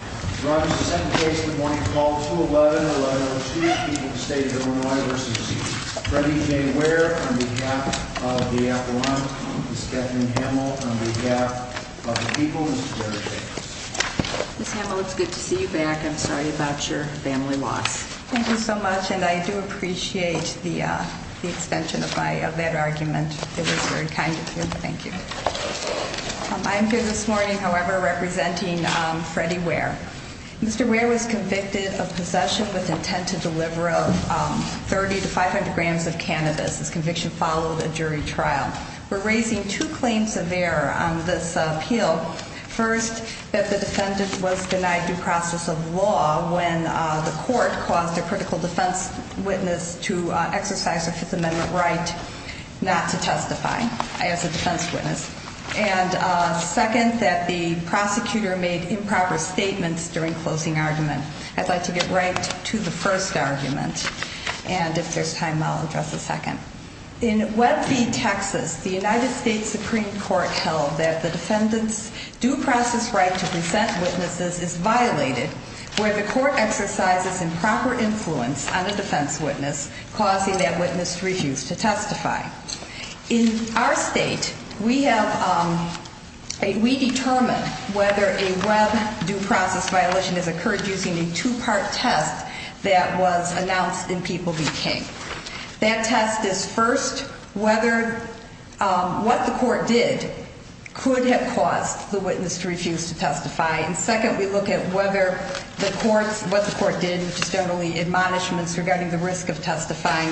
On behalf of the people, Ms. Ware, it's good to see you back. I'm sorry about your family loss. Thank you so much, and I do appreciate the extension of that argument. It was very kind of you. Thank you. I'm here this morning, however, representing Freddie Ware. Mr. Ware was convicted of possession with intent to deliver 30 to 500 grams of cannabis. This conviction followed a jury trial. We're raising two claims of error on this appeal. First, that the defendant was denied due process of law when the court caused a critical defense witness to exercise a Fifth Amendment right not to testify as a defense witness. And second, that the prosecutor made improper statements during closing argument. I'd like to get right to the first argument, and if there's time, I'll address the second. In Webb v. Texas, the United States Supreme Court held that the defendant's due process right to present witnesses is violated where the court exercises improper influence on a defense witness, causing that witness to refuse to testify. In our state, we determined whether a Webb due process violation has occurred using a two-part test that was announced in People v. King. That test is, first, whether what the court did could have caused the witness to refuse to testify. And second, we look at whether what the court did, which is generally admonishments regarding the risk of testifying,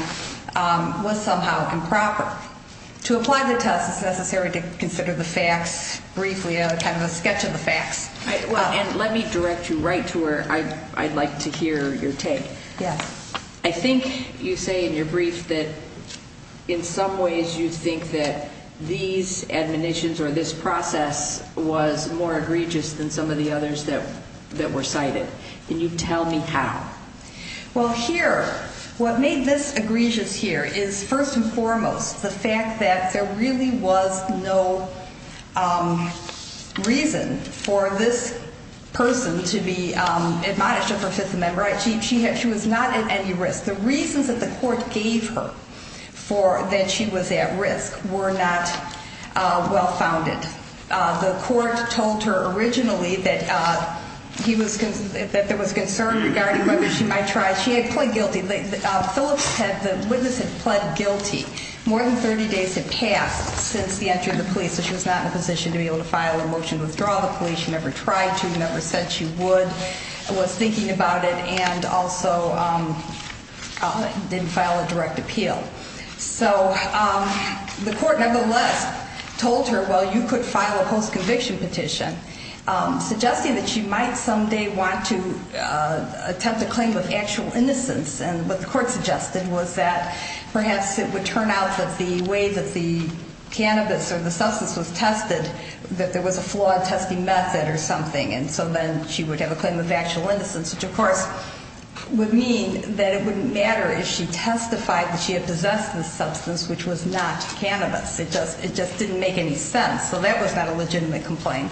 was somehow improper. To apply the test, it's necessary to consider the facts briefly, kind of a sketch of the facts. And let me direct you right to where I'd like to hear your take. Yes. I think you say in your brief that in some ways you think that these admonitions or this process was more egregious than some of the others that were cited. Can you tell me how? Well, here, what made this egregious here is, first and foremost, the fact that there really was no reason for this person to be admonished of her Fifth Amendment right. She was not at any risk. The reasons that the court gave her for that she was at risk were not well-founded. The court told her originally that there was concern regarding whether she might try. She had pled guilty. The witness had pled guilty. More than 30 days had passed since the entry of the police. So she was not in a position to be able to file a motion to withdraw the police. She never tried to. She never said she would, was thinking about it, and also didn't file a direct appeal. So the court, nevertheless, told her, well, you could file a post-conviction petition, suggesting that she might someday want to attempt a claim of actual innocence. And what the court suggested was that perhaps it would turn out that the way that the cannabis or the substance was tested, that there was a flawed testing method or something. And so then she would have a claim of actual innocence, which, of course, would mean that it wouldn't matter if she testified that she had possessed the substance, which was not cannabis. It just didn't make any sense. So that was not a legitimate complaint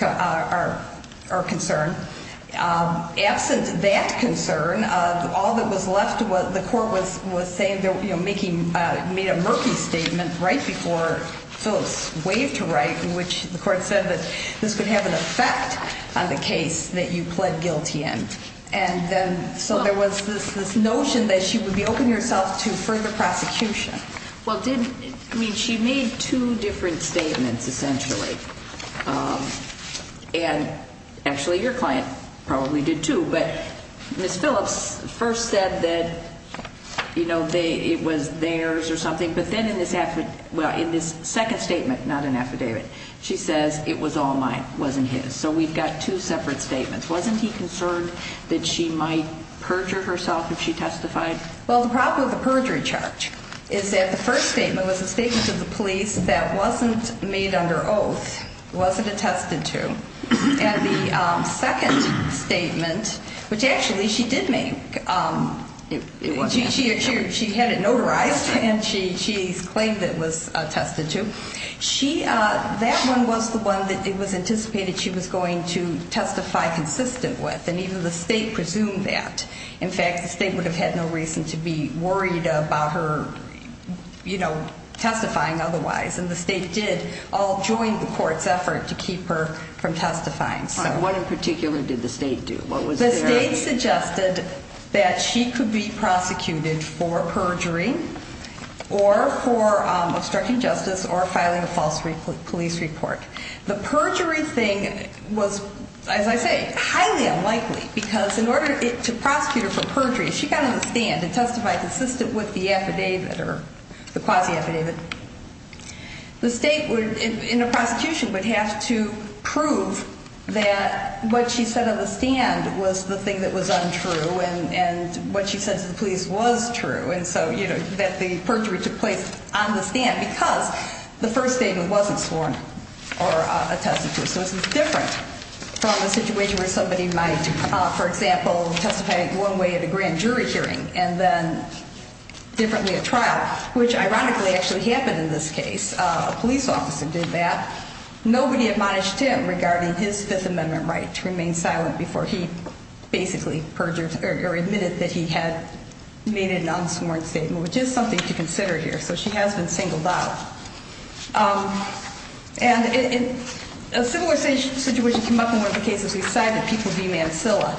or concern. Absent that concern, all that was left was the court was saying, you know, making, made a murky statement right before Phyllis waved to write, in which the court said that this could have an effect on the case that you pled guilty in. And then so there was this notion that she would be open herself to further prosecution. Well, did, I mean, she made two different statements, essentially. And actually your client probably did, too. But Miss Phillips first said that, you know, it was theirs or something. But then in this second statement, not an affidavit, she says it was all mine, wasn't his. So we've got two separate statements. Wasn't he concerned that she might perjure herself if she testified? Well, the problem with the perjury charge is that the first statement was a statement to the police that wasn't made under oath, wasn't attested to. And the second statement, which actually she did make, she had it notarized and she claimed it was attested to. She, that one was the one that it was anticipated she was going to testify consistent with. And even the state presumed that. In fact, the state would have had no reason to be worried about her, you know, testifying otherwise. And the state did all join the court's effort to keep her from testifying. What in particular did the state do? The state suggested that she could be prosecuted for perjury or for obstructing justice or filing a false police report. The perjury thing was, as I say, highly unlikely because in order to prosecute her for perjury, she got on the stand and testified consistent with the affidavit or the quasi-affidavit. The state would, in a prosecution, would have to prove that what she said on the stand was the thing that was untrue and what she said to the police was true. And so, you know, that the perjury took place on the stand because the first statement wasn't sworn or attested to. So it's different from a situation where somebody might, for example, testify one way at a grand jury hearing and then differently at trial, which ironically actually happened in this case. A police officer did that. Nobody admonished him regarding his Fifth Amendment right to remain silent before he basically perjured or admitted that he had made an unsworn statement, which is something to consider here. So she has been singled out. And a similar situation came up in one of the cases we cited, People v. Mancilla.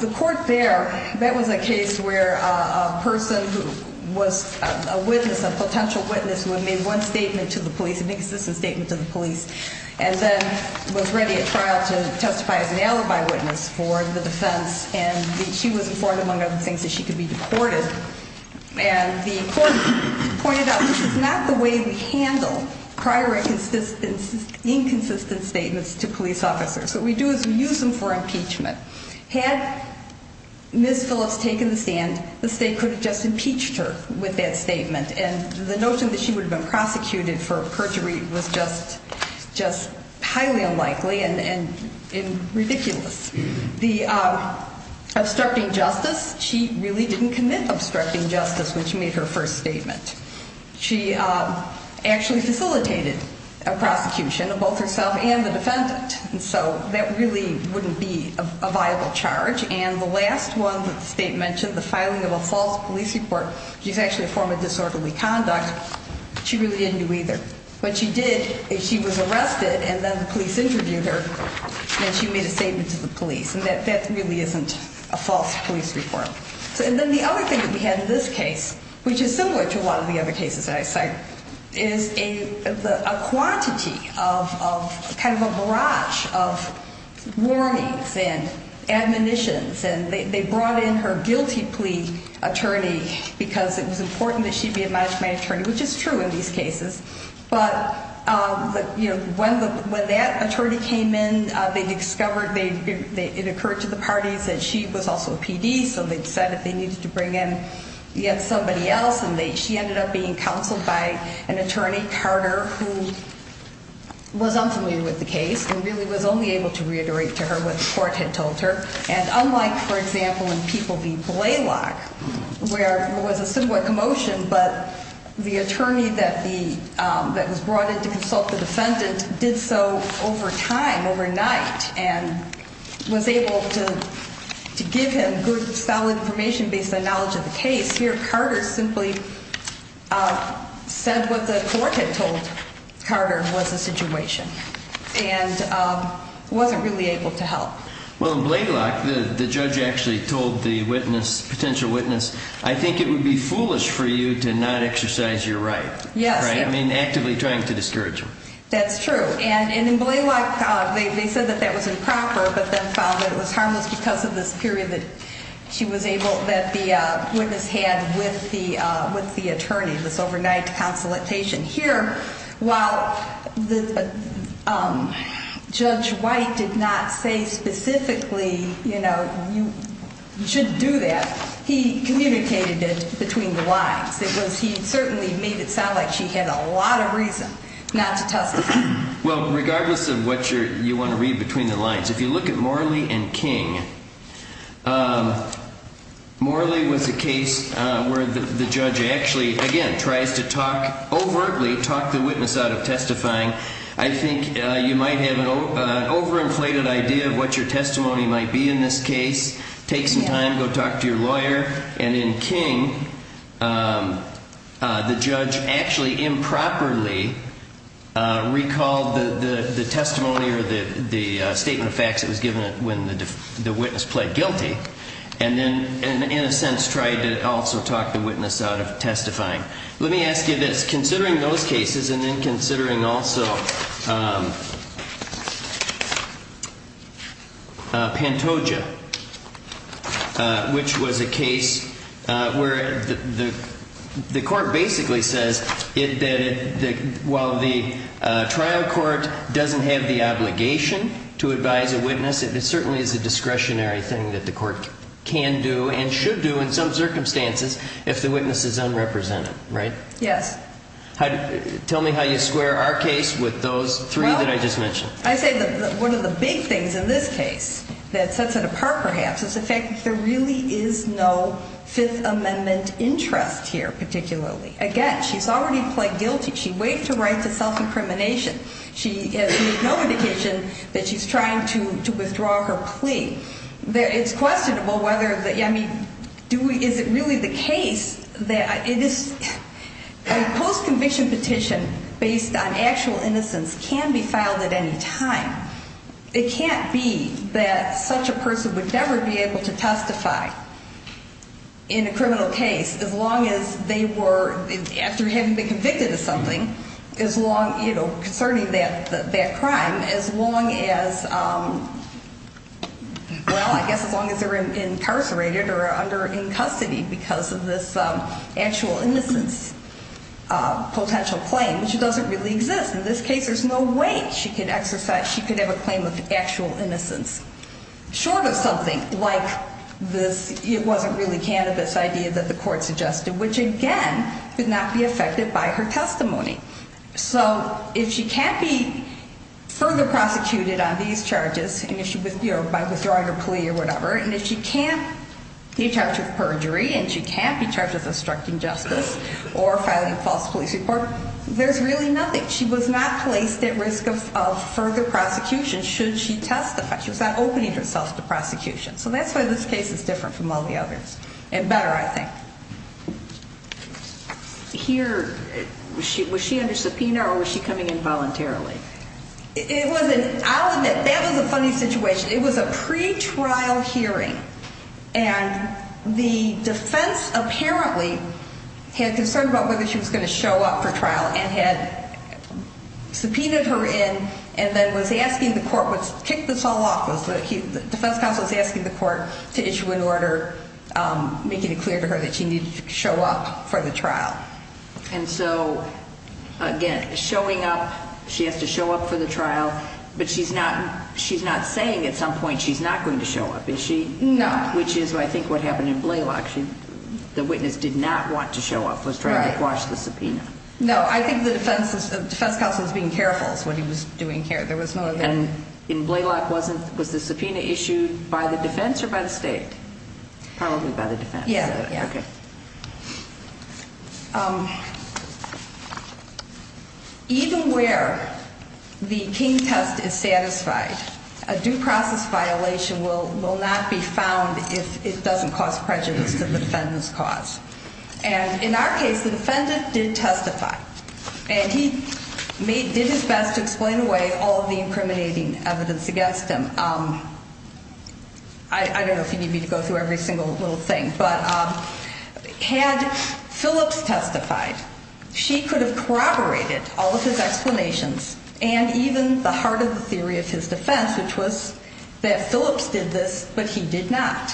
The court there, that was a case where a person who was a witness, a potential witness, who had made one statement to the police, an inconsistent statement to the police, and then was ready at trial to testify as an alibi witness for the defense, and she was informed, among other things, that she could be deported. And the court pointed out, this is not the way we handle prior inconsistent statements to police officers. What we do is we use them for impeachment. Had Ms. Phillips taken the stand, the state could have just impeached her with that statement. And the notion that she would have been prosecuted for perjury was just highly unlikely and ridiculous. The obstructing justice, she really didn't commit obstructing justice, which made her first statement. She actually facilitated a prosecution of both herself and the defendant. And so that really wouldn't be a viable charge. And the last one that the state mentioned, the filing of a false police report, which is actually a form of disorderly conduct, she really didn't do either. But she did, she was arrested, and then the police interviewed her, and she made a statement to the police. And that really isn't a false police report. And then the other thing that we had in this case, which is similar to a lot of the other cases that I cite, is a quantity of kind of a barrage of warnings and admonitions. And they brought in her guilty plea attorney because it was important that she be a management attorney, which is true in these cases. But when that attorney came in, they discovered it occurred to the parties that she was also a PD, so they decided they needed to bring in yet somebody else. And she ended up being counseled by an attorney, Carter, who was unfamiliar with the case and really was only able to reiterate to her what the court had told her. And unlike, for example, in People v. Blalock, where it was a similar commotion, but the attorney that was brought in to consult the defendant did so over time, overnight, and was able to give him good, solid information based on knowledge of the case, here Carter simply said what the court had told Carter was the situation and wasn't really able to help. Well, in Blalock, the judge actually told the witness, potential witness, I think it would be foolish for you to not exercise your right. Yes. I mean, actively trying to discourage him. That's true. And in Blalock, they said that that was improper, but then found that it was harmless because of this period that she was able, that the witness had with the attorney, this overnight consultation. Here, while Judge White did not say specifically, you know, you shouldn't do that, he communicated it between the lines. It was, he certainly made it sound like she had a lot of reason not to testify. Well, regardless of what you want to read between the lines, if you look at Morley v. King, Morley was a case where the judge actually, again, tries to talk, overtly talk the witness out of testifying. I think you might have an overinflated idea of what your testimony might be in this case. Take some time, go talk to your lawyer. And in King, the judge actually improperly recalled the testimony or the statement of facts that was given when the witness pled guilty and then, in a sense, tried to also talk the witness out of testifying. Let me ask you this, considering those cases and then considering also Pantoja, which was a case where the court basically says that while the trial court doesn't have the obligation to advise a witness, it certainly is a discretionary thing that the court can do and should do in some circumstances if the witness is unrepresented. Right? Yes. Tell me how you square our case with those three that I just mentioned. Well, I say that one of the big things in this case that sets it apart, perhaps, is the fact that there really is no Fifth Amendment interest here, particularly. Again, she's already pled guilty. She waived her right to self-incrimination. It's questionable whether the – I mean, is it really the case that it is – a post-conviction petition based on actual innocence can be filed at any time. It can't be that such a person would never be able to testify in a criminal case as long as they were – after having been convicted of something, as long – you know, concerning that crime, as long as – well, I guess as long as they were incarcerated or under – in custody because of this actual innocence potential claim, which doesn't really exist. In this case, there's no way she could exercise – she could have a claim of actual innocence short of something like this – it wasn't really cannabis idea that the court suggested, which, again, could not be affected by her testimony. So if she can't be further prosecuted on these charges, you know, by withdrawing her plea or whatever, and if she can't be charged with perjury and she can't be charged with obstructing justice or filing a false police report, there's really nothing. She was not placed at risk of further prosecution should she testify. She was not opening herself to prosecution. So that's why this case is different from all the others, and better, I think. Here – was she under subpoena or was she coming in voluntarily? It was an – I'll admit, that was a funny situation. It was a pretrial hearing, and the defense apparently had concern about whether she was going to show up for trial and had subpoenaed her in and then was asking the court – kicked this all off – the defense counsel was asking the court to issue an order making it clear to her that she needed to show up for the trial. And so, again, showing up – she has to show up for the trial, but she's not saying at some point she's not going to show up, is she? No. Which is, I think, what happened in Blalock. The witness did not want to show up, was trying to quash the subpoena. No, I think the defense counsel was being careful is what he was doing here. And in Blalock, was the subpoena issued by the defense or by the state? Probably by the defense. Yeah, yeah. Okay. Even where the King test is satisfied, a due process violation will not be found if it doesn't cause prejudice to the defendant's cause. And in our case, the defendant did testify. And he did his best to explain away all the incriminating evidence against him. I don't know if you need me to go through every single little thing, but had Phillips testified, she could have corroborated all of his explanations and even the heart of the theory of his defense, which was that Phillips did this, but he did not.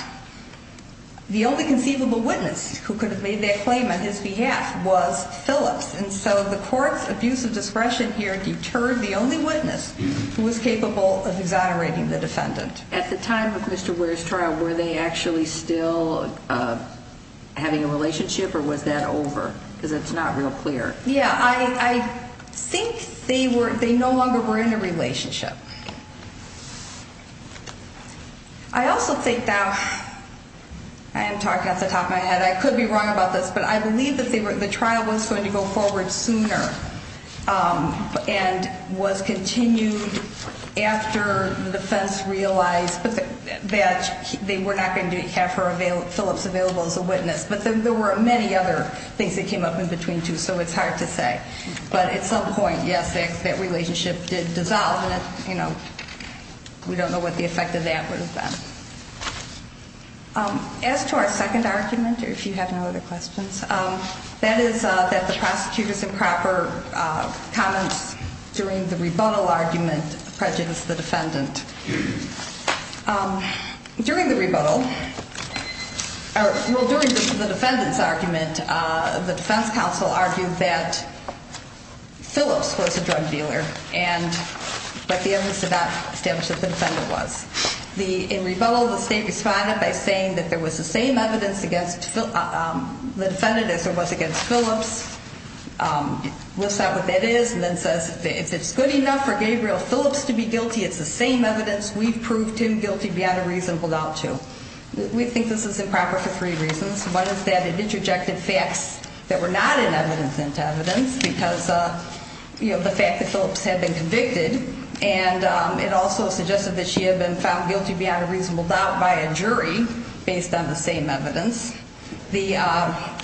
The only conceivable witness who could have made that claim on his behalf was Phillips. And so the court's abuse of discretion here deterred the only witness who was capable of exonerating the defendant. At the time of Mr. Ware's trial, were they actually still having a relationship or was that over? Because it's not real clear. Yeah, I think they no longer were in a relationship. I also think now, I am talking off the top of my head, I could be wrong about this, but I believe that the trial was going to go forward sooner and was continued after the defense realized that they were not going to have Phillips available as a witness. But there were many other things that came up in between, too, so it's hard to say. But at some point, yes, that relationship did dissolve. We don't know what the effect of that would have been. As to our second argument, if you have no other questions, that is that the prosecutor's improper comments during the rebuttal argument prejudiced the defendant. During the rebuttal, well, during the defendant's argument, the defense counsel argued that Phillips was a drug dealer, but the evidence did not establish that the defendant was. In rebuttal, the state responded by saying that there was the same evidence against the defendant as there was against Phillips. It lists out what that is and then says, if it's good enough for Gabriel Phillips to be guilty, it's the same evidence we've proved him guilty beyond a reasonable doubt to. We think this is improper for three reasons. One is that it interjected facts that were not in evidence into evidence because, you know, the fact that Phillips had been convicted. And it also suggested that she had been found guilty beyond a reasonable doubt by a jury based on the same evidence. The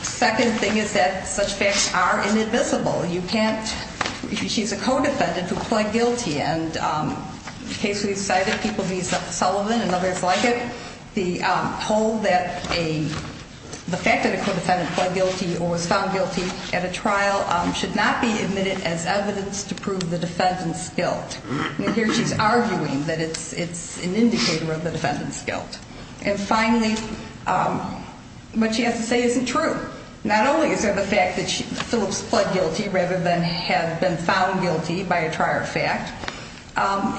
second thing is that such facts are inadmissible. You can't, she's a co-defendant who pled guilty. And in case we decided people need Sullivan and others like it, the whole that a, the fact that a co-defendant pled guilty or was found guilty at a trial should not be admitted as evidence to prove the defendant's guilt. And here she's arguing that it's an indicator of the defendant's guilt. And finally, what she has to say isn't true. Not only is there the fact that Phillips pled guilty rather than have been found guilty by a trial fact,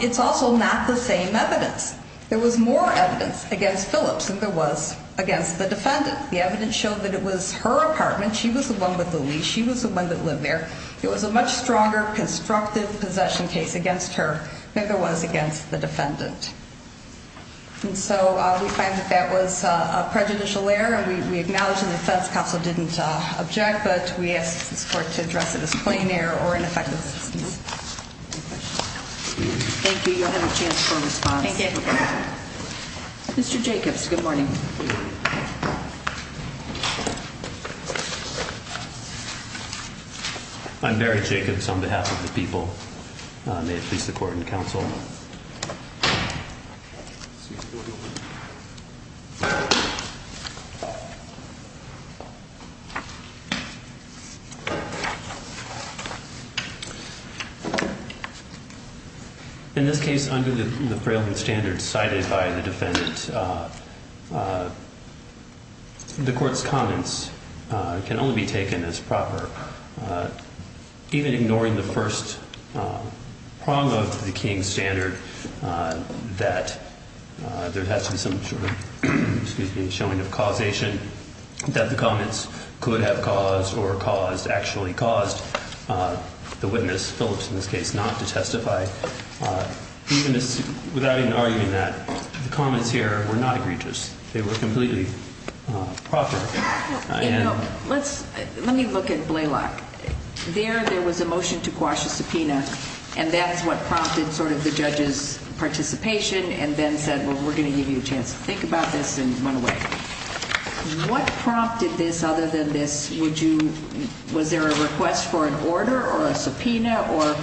it's also not the same evidence. There was more evidence against Phillips than there was against the defendant. The evidence showed that it was her apartment. She was the one with the lease. She was the one that lived there. It was a much stronger constructive possession case against her than there was against the defendant. And so we find that that was a prejudicial error. We acknowledge that the Feds Council didn't object, but we ask this court to address it as plain error or ineffective assistance. Thank you. You'll have a chance for a response. Thank you. Mr. Jacobs, good morning. I'm Barry Jacobs on behalf of the people. May it please the court and counsel. Excuse me. In this case, under the frailing standards cited by the defendant, the court's comments can only be taken as proper. Even ignoring the first prong of the King standard, that there has to be some sort of, excuse me, showing of causation, that the comments could have caused or caused, actually caused the witness, Phillips in this case, not to testify. Without even arguing that, the comments here were not egregious. They were completely proper. Let me look at Blalock. There, there was a motion to quash a subpoena, and that's what prompted sort of the judge's participation, and then said, well, we're going to give you a chance to think about this, and went away. What prompted this other than this? Would you, was there a request for an order or a subpoena, or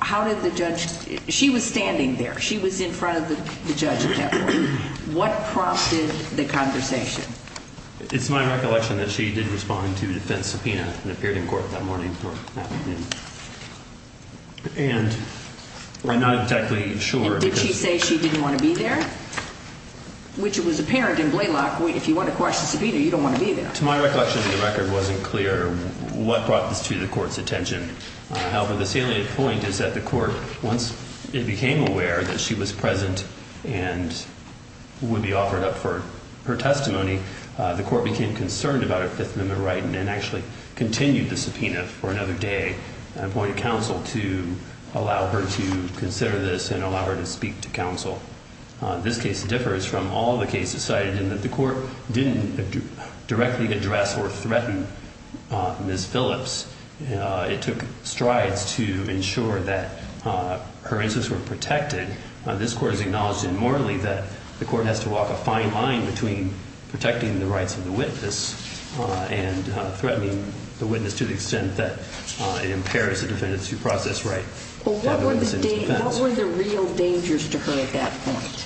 how did the judge, she was standing there. She was in front of the judge at that point. What prompted the conversation? It's my recollection that she did respond to a defense subpoena, and appeared in court that morning. And, we're not exactly sure. Did she say she didn't want to be there? Which it was apparent in Blalock, if you want to quash the subpoena, you don't want to be there. To my recollection of the record, it wasn't clear what brought this to the court's attention. However, the salient point is that the court, once it became aware that she was present, and would be offered up for her testimony, the court became concerned about her Fifth Amendment right, and actually continued the subpoena for another day, and appointed counsel to allow her to consider this and allow her to speak to counsel. This case differs from all the cases cited in that the court didn't directly address or threaten Ms. Phillips. It took strides to ensure that her interests were protected. This court has acknowledged, and morally, that the court has to walk a fine line between protecting the rights of the witness and threatening the witness to the extent that it impairs the defendant's due process right. What were the real dangers to her at that point?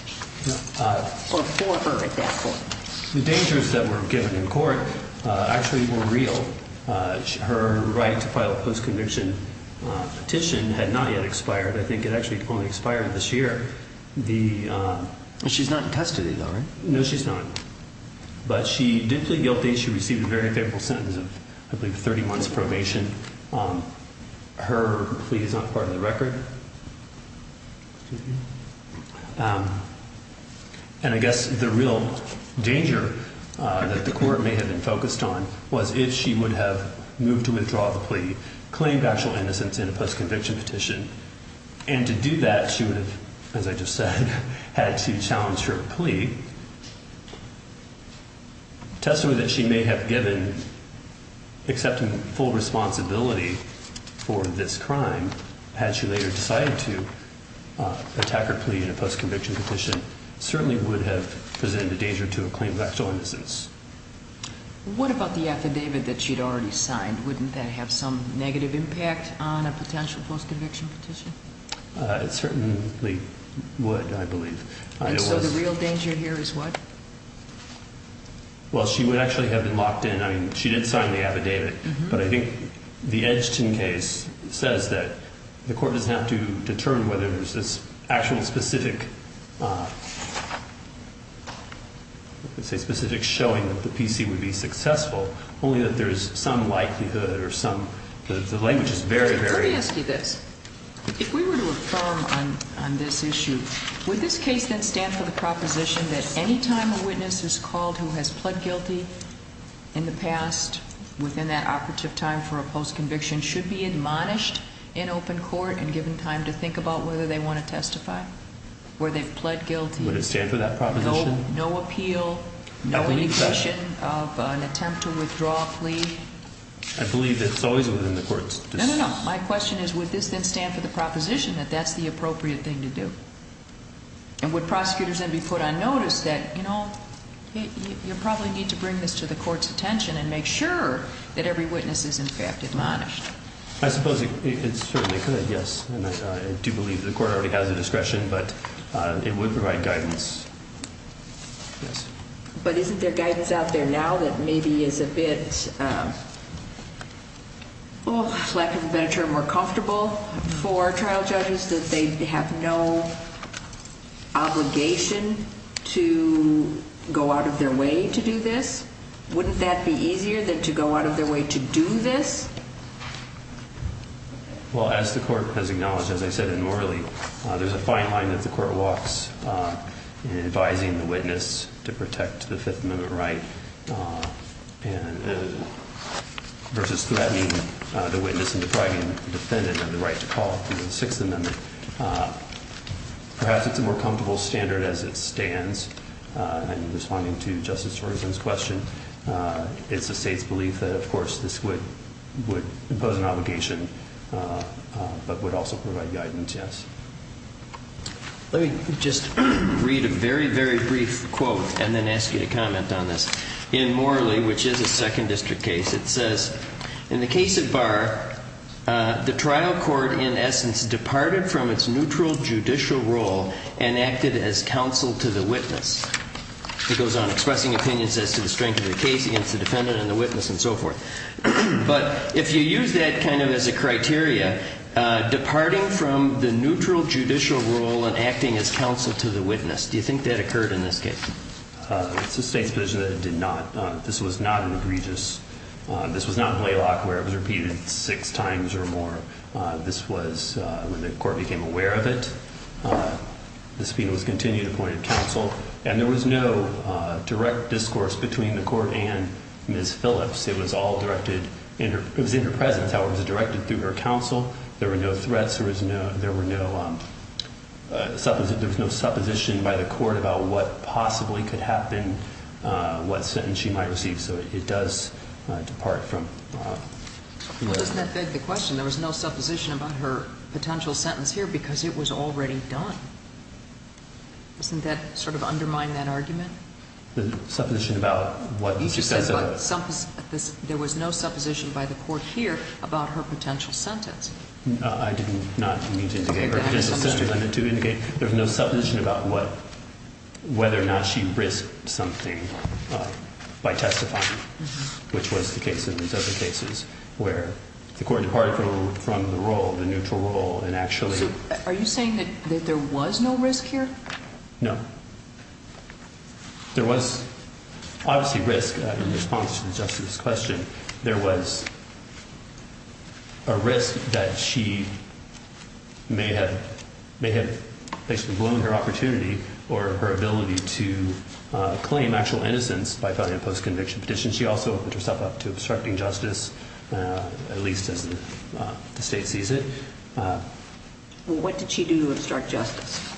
Or for her at that point? The dangers that were given in court actually were real. Her right to file a post-conviction petition had not yet expired. I think it actually only expired this year. She's not in custody though, right? No, she's not. But she did plead guilty. She received a very favorable sentence of, I believe, 30 months probation. Her plea is not part of the record. And I guess the real danger that the court may have been focused on was if she would have moved to withdraw the plea, if she would have claimed actual innocence in a post-conviction petition, and to do that she would have, as I just said, had to challenge her plea. A testimony that she may have given, accepting full responsibility for this crime, had she later decided to attack her plea in a post-conviction petition, certainly would have presented a danger to a claim of actual innocence. What about the affidavit that she'd already signed? Wouldn't that have some negative impact on a potential post-conviction petition? It certainly would, I believe. And so the real danger here is what? Well, she would actually have been locked in. I mean, she did sign the affidavit, but I think the Edgton case says that the court doesn't have to determine whether there's this actual specific showing that the PC would be successful, only that there's some likelihood or some, the language is very, very. Let me ask you this. If we were to affirm on this issue, would this case then stand for the proposition that any time a witness is called who has pled guilty in the past, within that operative time for a post-conviction, should be admonished in open court and given time to think about whether they want to testify, where they've pled guilty. Would it stand for that proposition? No appeal, no indication of an attempt to withdraw a plea. I believe it's always within the court's discretion. No, no, no. My question is, would this then stand for the proposition that that's the appropriate thing to do? And would prosecutors then be put on notice that, you know, you probably need to bring this to the court's attention and make sure that every witness is in fact admonished? I suppose it certainly could, yes. And I do believe the court already has the discretion, but it would provide guidance. But isn't there guidance out there now that maybe is a bit, well, lack of a better term, more comfortable for trial judges that they have no obligation to go out of their way to do this? Wouldn't that be easier than to go out of their way to do this? Well, as the court has acknowledged, as I said in Morley, there's a fine line that the court walks in advising the witness to protect the Fifth Amendment right versus threatening the witness and depriving the defendant of the right to call through the Sixth Amendment. Perhaps it's a more comfortable standard as it stands. And responding to Justice Ferguson's question, it's the state's belief that, of course, this would impose an obligation but would also provide guidance, yes. Let me just read a very, very brief quote and then ask you to comment on this. In Morley, which is a Second District case, it says, In the case of Barr, the trial court in essence departed from its neutral judicial role and acted as counsel to the witness. It goes on expressing opinions as to the strength of the case against the defendant and the witness and so forth. But if you use that kind of as a criteria, departing from the neutral judicial role and acting as counsel to the witness, do you think that occurred in this case? It's the state's position that it did not. This was not an egregious. This was not in Laylock where it was repeated six times or more. This was when the court became aware of it. The subpoena was continued, appointed counsel. And there was no direct discourse between the court and Ms. Phillips. It was all directed in her presence. However, it was directed through her counsel. There were no threats. There was no supposition by the court about what possibly could happen, what sentence she might receive. So it does depart from Laylock. Doesn't that beg the question? There was no supposition about her potential sentence here because it was already done. Doesn't that sort of undermine that argument? The supposition about what she says about it? There was no supposition by the court here about her potential sentence. I did not mean to indicate her potential sentence. I meant to indicate there was no supposition about whether or not she risked something by testifying, which was the case in these other cases where the court departed from the role, the neutral role, and actually. Are you saying that there was no risk here? No. There was obviously risk in response to the justice's question. There was a risk that she may have blown her opportunity or her ability to claim actual innocence by filing a post-conviction petition. She also put herself up to obstructing justice, at least as the state sees it. What did she do to obstruct justice?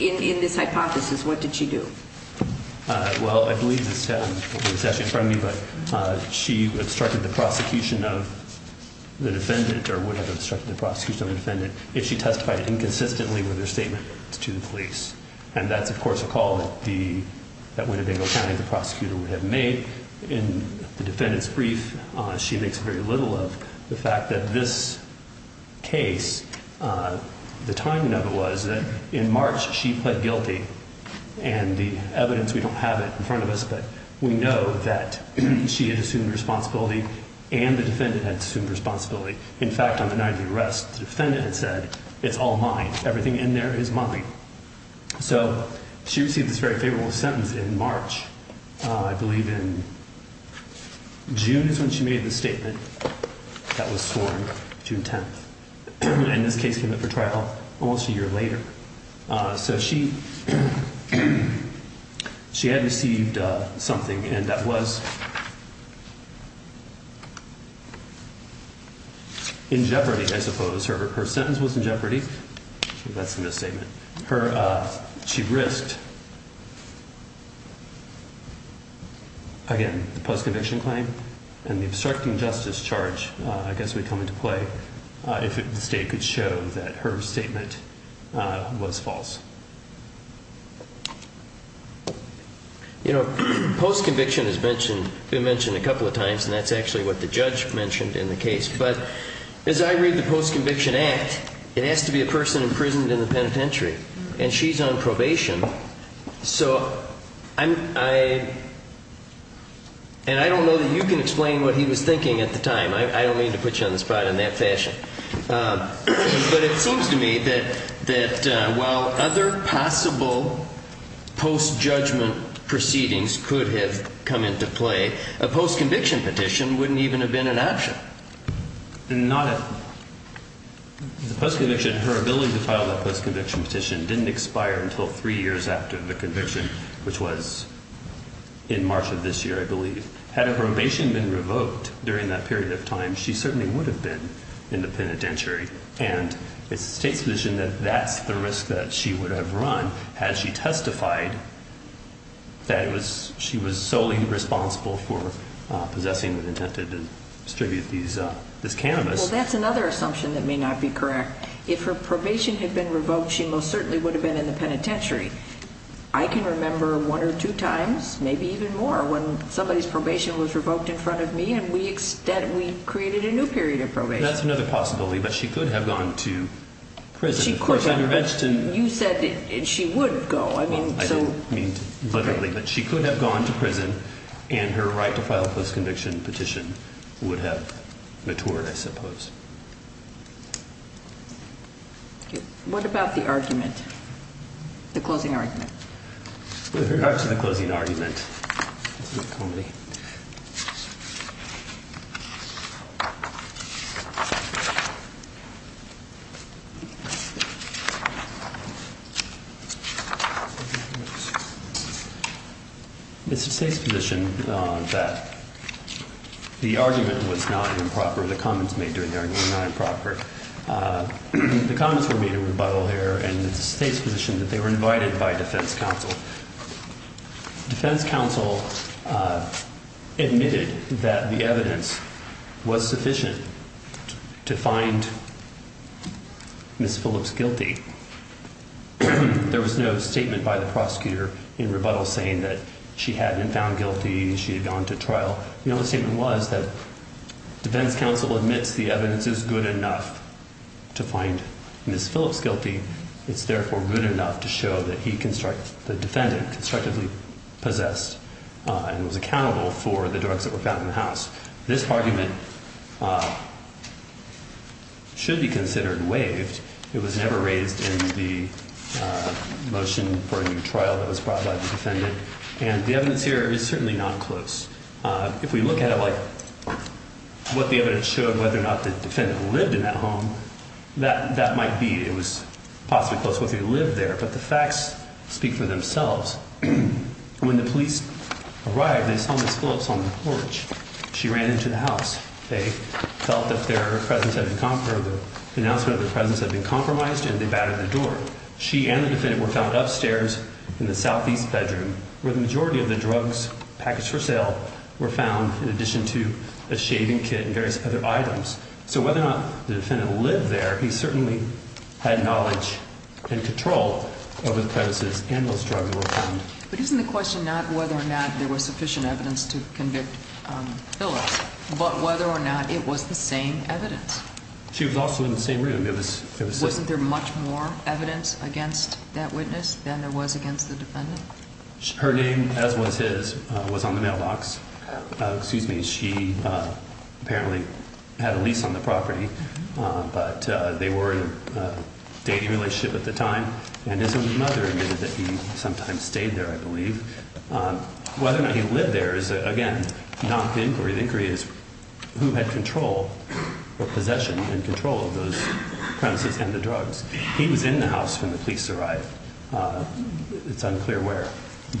In this hypothesis, what did she do? Well, I believe this is actually in front of me, but she obstructed the prosecution of the defendant or would have obstructed the prosecution of the defendant if she testified inconsistently with her statement to the police. And that's, of course, a call that Winnebago County, the prosecutor, would have made. In the defendant's brief, she makes very little of the fact that this case, the timing of it was that in March she pled guilty. And the evidence, we don't have it in front of us, but we know that she had assumed responsibility and the defendant had assumed responsibility. In fact, on the night of the arrest, the defendant had said, it's all mine. Everything in there is mine. So she received this very favorable sentence in March. I believe in June is when she made the statement that was sworn, June 10th. And this case came up for trial almost a year later. So she had received something and that was in jeopardy, I suppose. Her sentence was in jeopardy. That's a misstatement. She risked, again, the post-conviction claim and the obstructing justice charge, I guess, would come into play if the state could show that her statement was false. You know, post-conviction has been mentioned a couple of times, and that's actually what the judge mentioned in the case. But as I read the post-conviction act, it has to be a person imprisoned in the penitentiary, and she's on probation. And I don't know that you can explain what he was thinking at the time. I don't mean to put you on the spot in that fashion. But it seems to me that while other possible post-judgment proceedings could have come into play, a post-conviction petition wouldn't even have been an option. Not at all. The post-conviction, her ability to file that post-conviction petition didn't expire until three years after the conviction, which was in March of this year, I believe. Had her probation been revoked during that period of time, she certainly would have been in the penitentiary. And it's the state's position that that's the risk that she would have run had she testified that she was solely responsible for possessing and intended to distribute this cannabis. Well, that's another assumption that may not be correct. If her probation had been revoked, she most certainly would have been in the penitentiary. I can remember one or two times, maybe even more, when somebody's probation was revoked in front of me and we created a new period of probation. That's another possibility, but she could have gone to prison. She could have. You said she would go. I didn't mean literally, but she could have gone to prison, and her right to file a post-conviction petition would have matured, I suppose. What about the argument, the closing argument? With regards to the closing argument, it's a bit of comedy. It's the state's position that the argument was not improper. The comments made during the argument were not improper. The comments were made in rebuttal here, and it's the state's position that they were invited by defense counsel. Defense counsel admitted that the evidence was sufficient to find Ms. Phillips guilty. There was no statement by the prosecutor in rebuttal saying that she had been found guilty, she had gone to trial. The only statement was that defense counsel admits the evidence is good enough to find Ms. Phillips guilty. It's therefore good enough to show that the defendant constructively possessed and was accountable for the drugs that were found in the house. This argument should be considered waived. It was never raised in the motion for a new trial that was brought by the defendant, and the evidence here is certainly not close. If we look at it like what the evidence showed, whether or not the defendant lived in that home, that might be. It was possibly close whether he lived there, but the facts speak for themselves. When the police arrived, they saw Ms. Phillips on the porch. She ran into the house. They felt that their presence had been—the announcement of their presence had been compromised, and they battered the door. She and the defendant were found upstairs in the southeast bedroom, where the majority of the drugs packaged for sale were found in addition to a shaving kit and various other items. So whether or not the defendant lived there, he certainly had knowledge and control over the premises and those drugs that were found. But isn't the question not whether or not there was sufficient evidence to convict Phillips, but whether or not it was the same evidence? She was also in the same room. Wasn't there much more evidence against that witness than there was against the defendant? Her name, as was his, was on the mailbox. She apparently had a lease on the property, but they were in a dating relationship at the time, and his mother admitted that he sometimes stayed there, I believe. Whether or not he lived there is, again, not the inquiry. The inquiry is who had control or possession and control of those premises and the drugs. He was in the house when the police arrived. It's unclear where,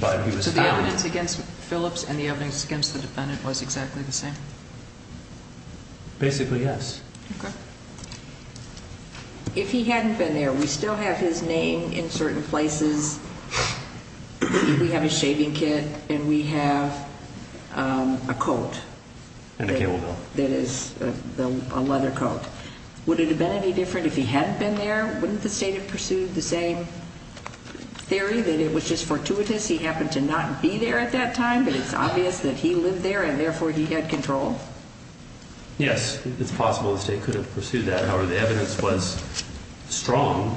but he was found. So the evidence against Phillips and the evidence against the defendant was exactly the same? Basically, yes. Okay. If he hadn't been there, we still have his name in certain places. We have his shaving kit, and we have a coat that is a leather coat. Would it have been any different if he hadn't been there? Wouldn't the state have pursued the same theory, that it was just fortuitous he happened to not be there at that time, but it's obvious that he lived there and, therefore, he had control? Yes, it's possible the state could have pursued that. However, the evidence was strong,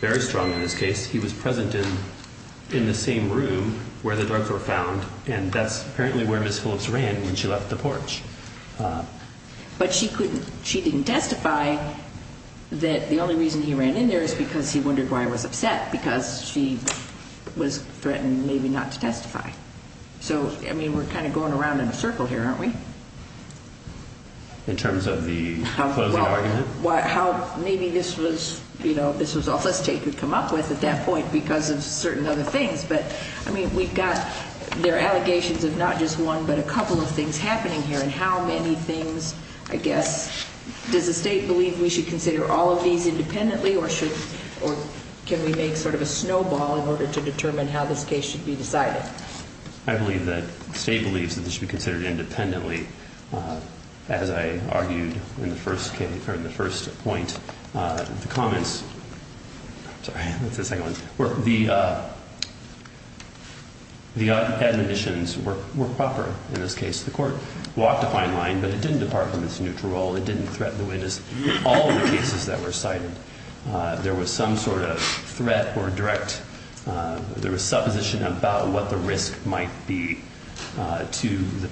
very strong in this case. He was present in the same room where the drugs were found, and that's apparently where Ms. Phillips ran when she left the porch. But she didn't testify that the only reason he ran in there is because he wondered why he was upset because she was threatened maybe not to testify. So, I mean, we're kind of going around in a circle here, aren't we? In terms of the closing argument? Well, maybe this was all the state could come up with at that point because of certain other things, but, I mean, we've got there are allegations of not just one but a couple of things happening here, and how many things, I guess, does the state believe we should consider all of these independently or can we make sort of a snowball in order to determine how this case should be decided? I believe that the state believes that this should be considered independently, as I argued in the first point. The comments, sorry, that's the second one. The admonitions were proper in this case. The court walked a fine line, but it didn't depart from its neutral role. It didn't threaten the witness in all of the cases that were cited. There was some sort of threat or direct, there was supposition about what the risk might be to the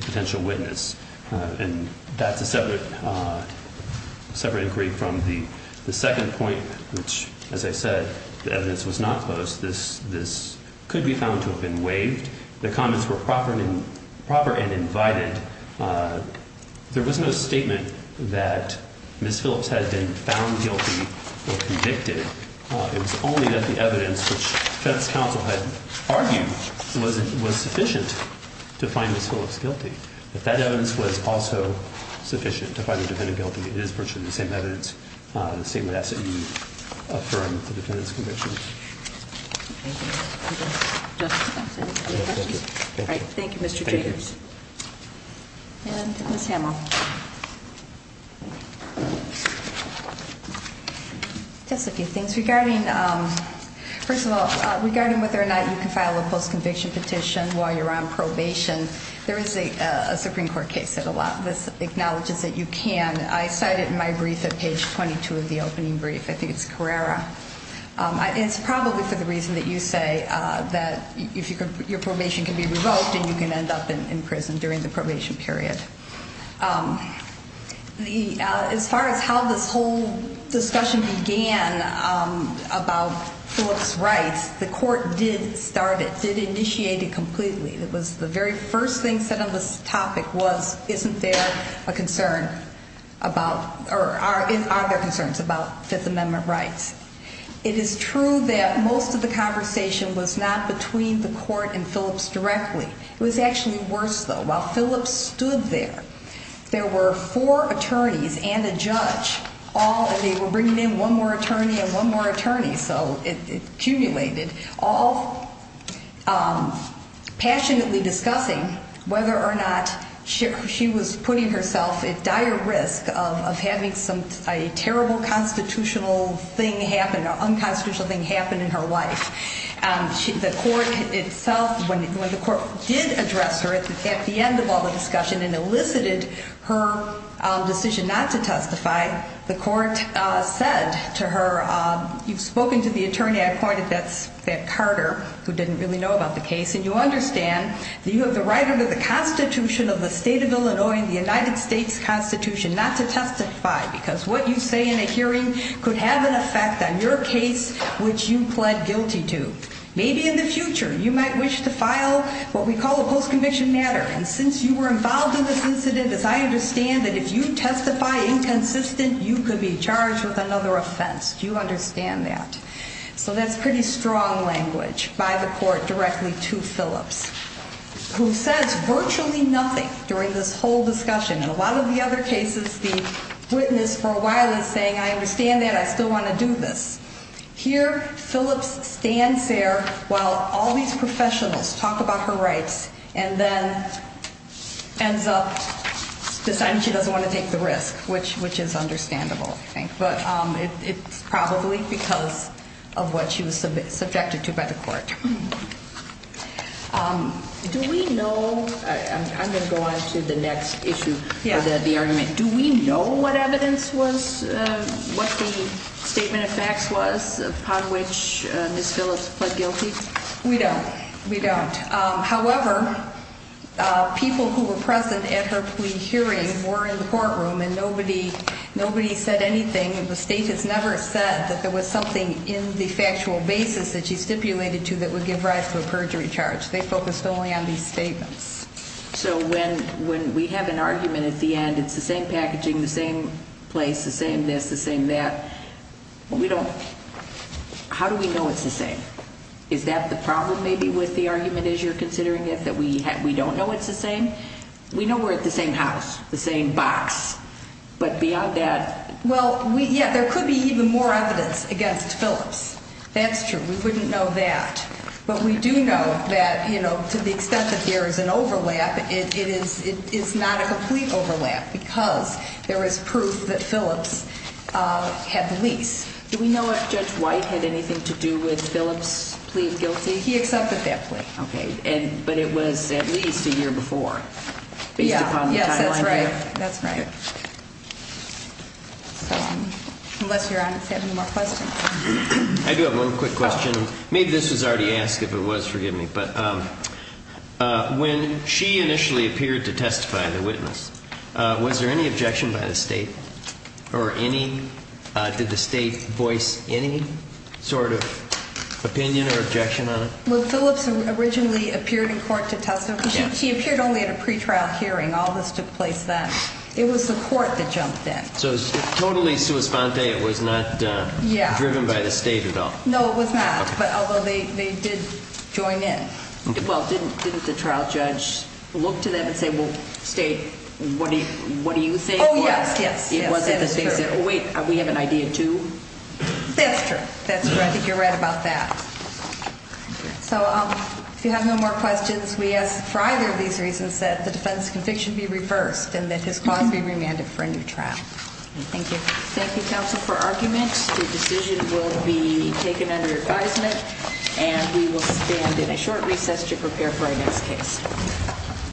potential witness, and that's a separate inquiry from the second point, which, as I said, the evidence was not closed. This could be found to have been waived. The comments were proper and invited. There was no statement that Ms. Phillips had been found guilty or convicted. It was only that the evidence, which defense counsel had argued, was sufficient to find Ms. Phillips guilty. If that evidence was also sufficient to find the defendant guilty, it is virtually the same evidence, the same asset you affirmed the defendant's conviction. Thank you. Thank you, Mr. Jacobs. And Ms. Hamill. Just a few things. Regarding, first of all, regarding whether or not you can file a post-conviction petition while you're on probation, there is a Supreme Court case that a lot of this acknowledges that you can. I cite it in my brief at page 22 of the opening brief. I think it's Carrera. It's probably for the reason that you say that your probation can be revoked and you can end up in prison during the probation period. As far as how this whole discussion began about Phillips' rights, the court did start it, did initiate it completely. It was the very first thing said on this topic was, isn't there a concern about, or are there concerns about Fifth Amendment rights? It is true that most of the conversation was not between the court and Phillips directly. It was actually worse, though. While Phillips stood there, there were four attorneys and a judge all, and they were bringing in one more attorney and one more attorney, so it accumulated, all passionately discussing whether or not she was putting herself at dire risk of having a terrible constitutional thing happen, an unconstitutional thing happen in her life. The court itself, when the court did address her at the end of all the discussion and elicited her decision not to testify, the court said to her, you've spoken to the attorney I pointed, that's Carter, who didn't really know about the case, and you understand that you have the right under the Constitution of the state of Illinois, the United States Constitution, not to testify because what you say in a hearing could have an effect on your case, which you pled guilty to. Maybe in the future you might wish to file what we call a post-conviction matter, and since you were involved in this incident, as I understand it, if you testify inconsistent, you could be charged with another offense. Do you understand that? So that's pretty strong language by the court directly to Phillips, who says virtually nothing during this whole discussion. In a lot of the other cases, the witness for a while is saying, I understand that, I still want to do this. Here, Phillips stands there while all these professionals talk about her rights and then ends up deciding she doesn't want to take the risk, which is understandable, I think, but it's probably because of what she was subjected to by the court. Do we know, I'm going to go on to the next issue, the argument. Do we know what evidence was, what the statement of facts was upon which Ms. Phillips pled guilty? We don't. We don't. However, people who were present at her plea hearing were in the courtroom, and nobody said anything. The state has never said that there was something in the factual basis that she stipulated to that would give rise to a perjury charge. They focused only on these statements. So when we have an argument at the end, it's the same packaging, the same place, the same this, the same that. We don't, how do we know it's the same? Is that the problem maybe with the argument as you're considering it, that we don't know it's the same? We know we're at the same house, the same box. But beyond that? Well, yeah, there could be even more evidence against Phillips. That's true. We wouldn't know that. But we do know that, you know, to the extent that there is an overlap, it is not a complete overlap because there is proof that Phillips had the lease. Do we know if Judge White had anything to do with Phillips' plea of guilty? He accepted that plea. Okay. But it was at least a year before, based upon the timeline here? That's right. That's right. Unless Your Honor has any more questions. I do have one quick question. Maybe this was already asked. If it was, forgive me. But when she initially appeared to testify, the witness, was there any objection by the State or any, did the State voice any sort of opinion or objection on it? Well, Phillips originally appeared in court to testify. She appeared only at a pretrial hearing. All this took place then. It was the court that jumped in. So it was totally sua sponte. It was not driven by the State at all? No, it was not, although they did join in. Well, didn't the trial judge look to them and say, well, State, what do you say? Oh, yes, yes. It wasn't that they said, oh, wait, we have an idea, too? That's true. I think you're right about that. So if you have no more questions, we ask for either of these reasons that the defense conviction be reversed and that his cause be remanded for a new trial. Thank you. Thank you, counsel, for argument. The decision will be taken under advisement, and we will stand in a short recess to prepare for our next case.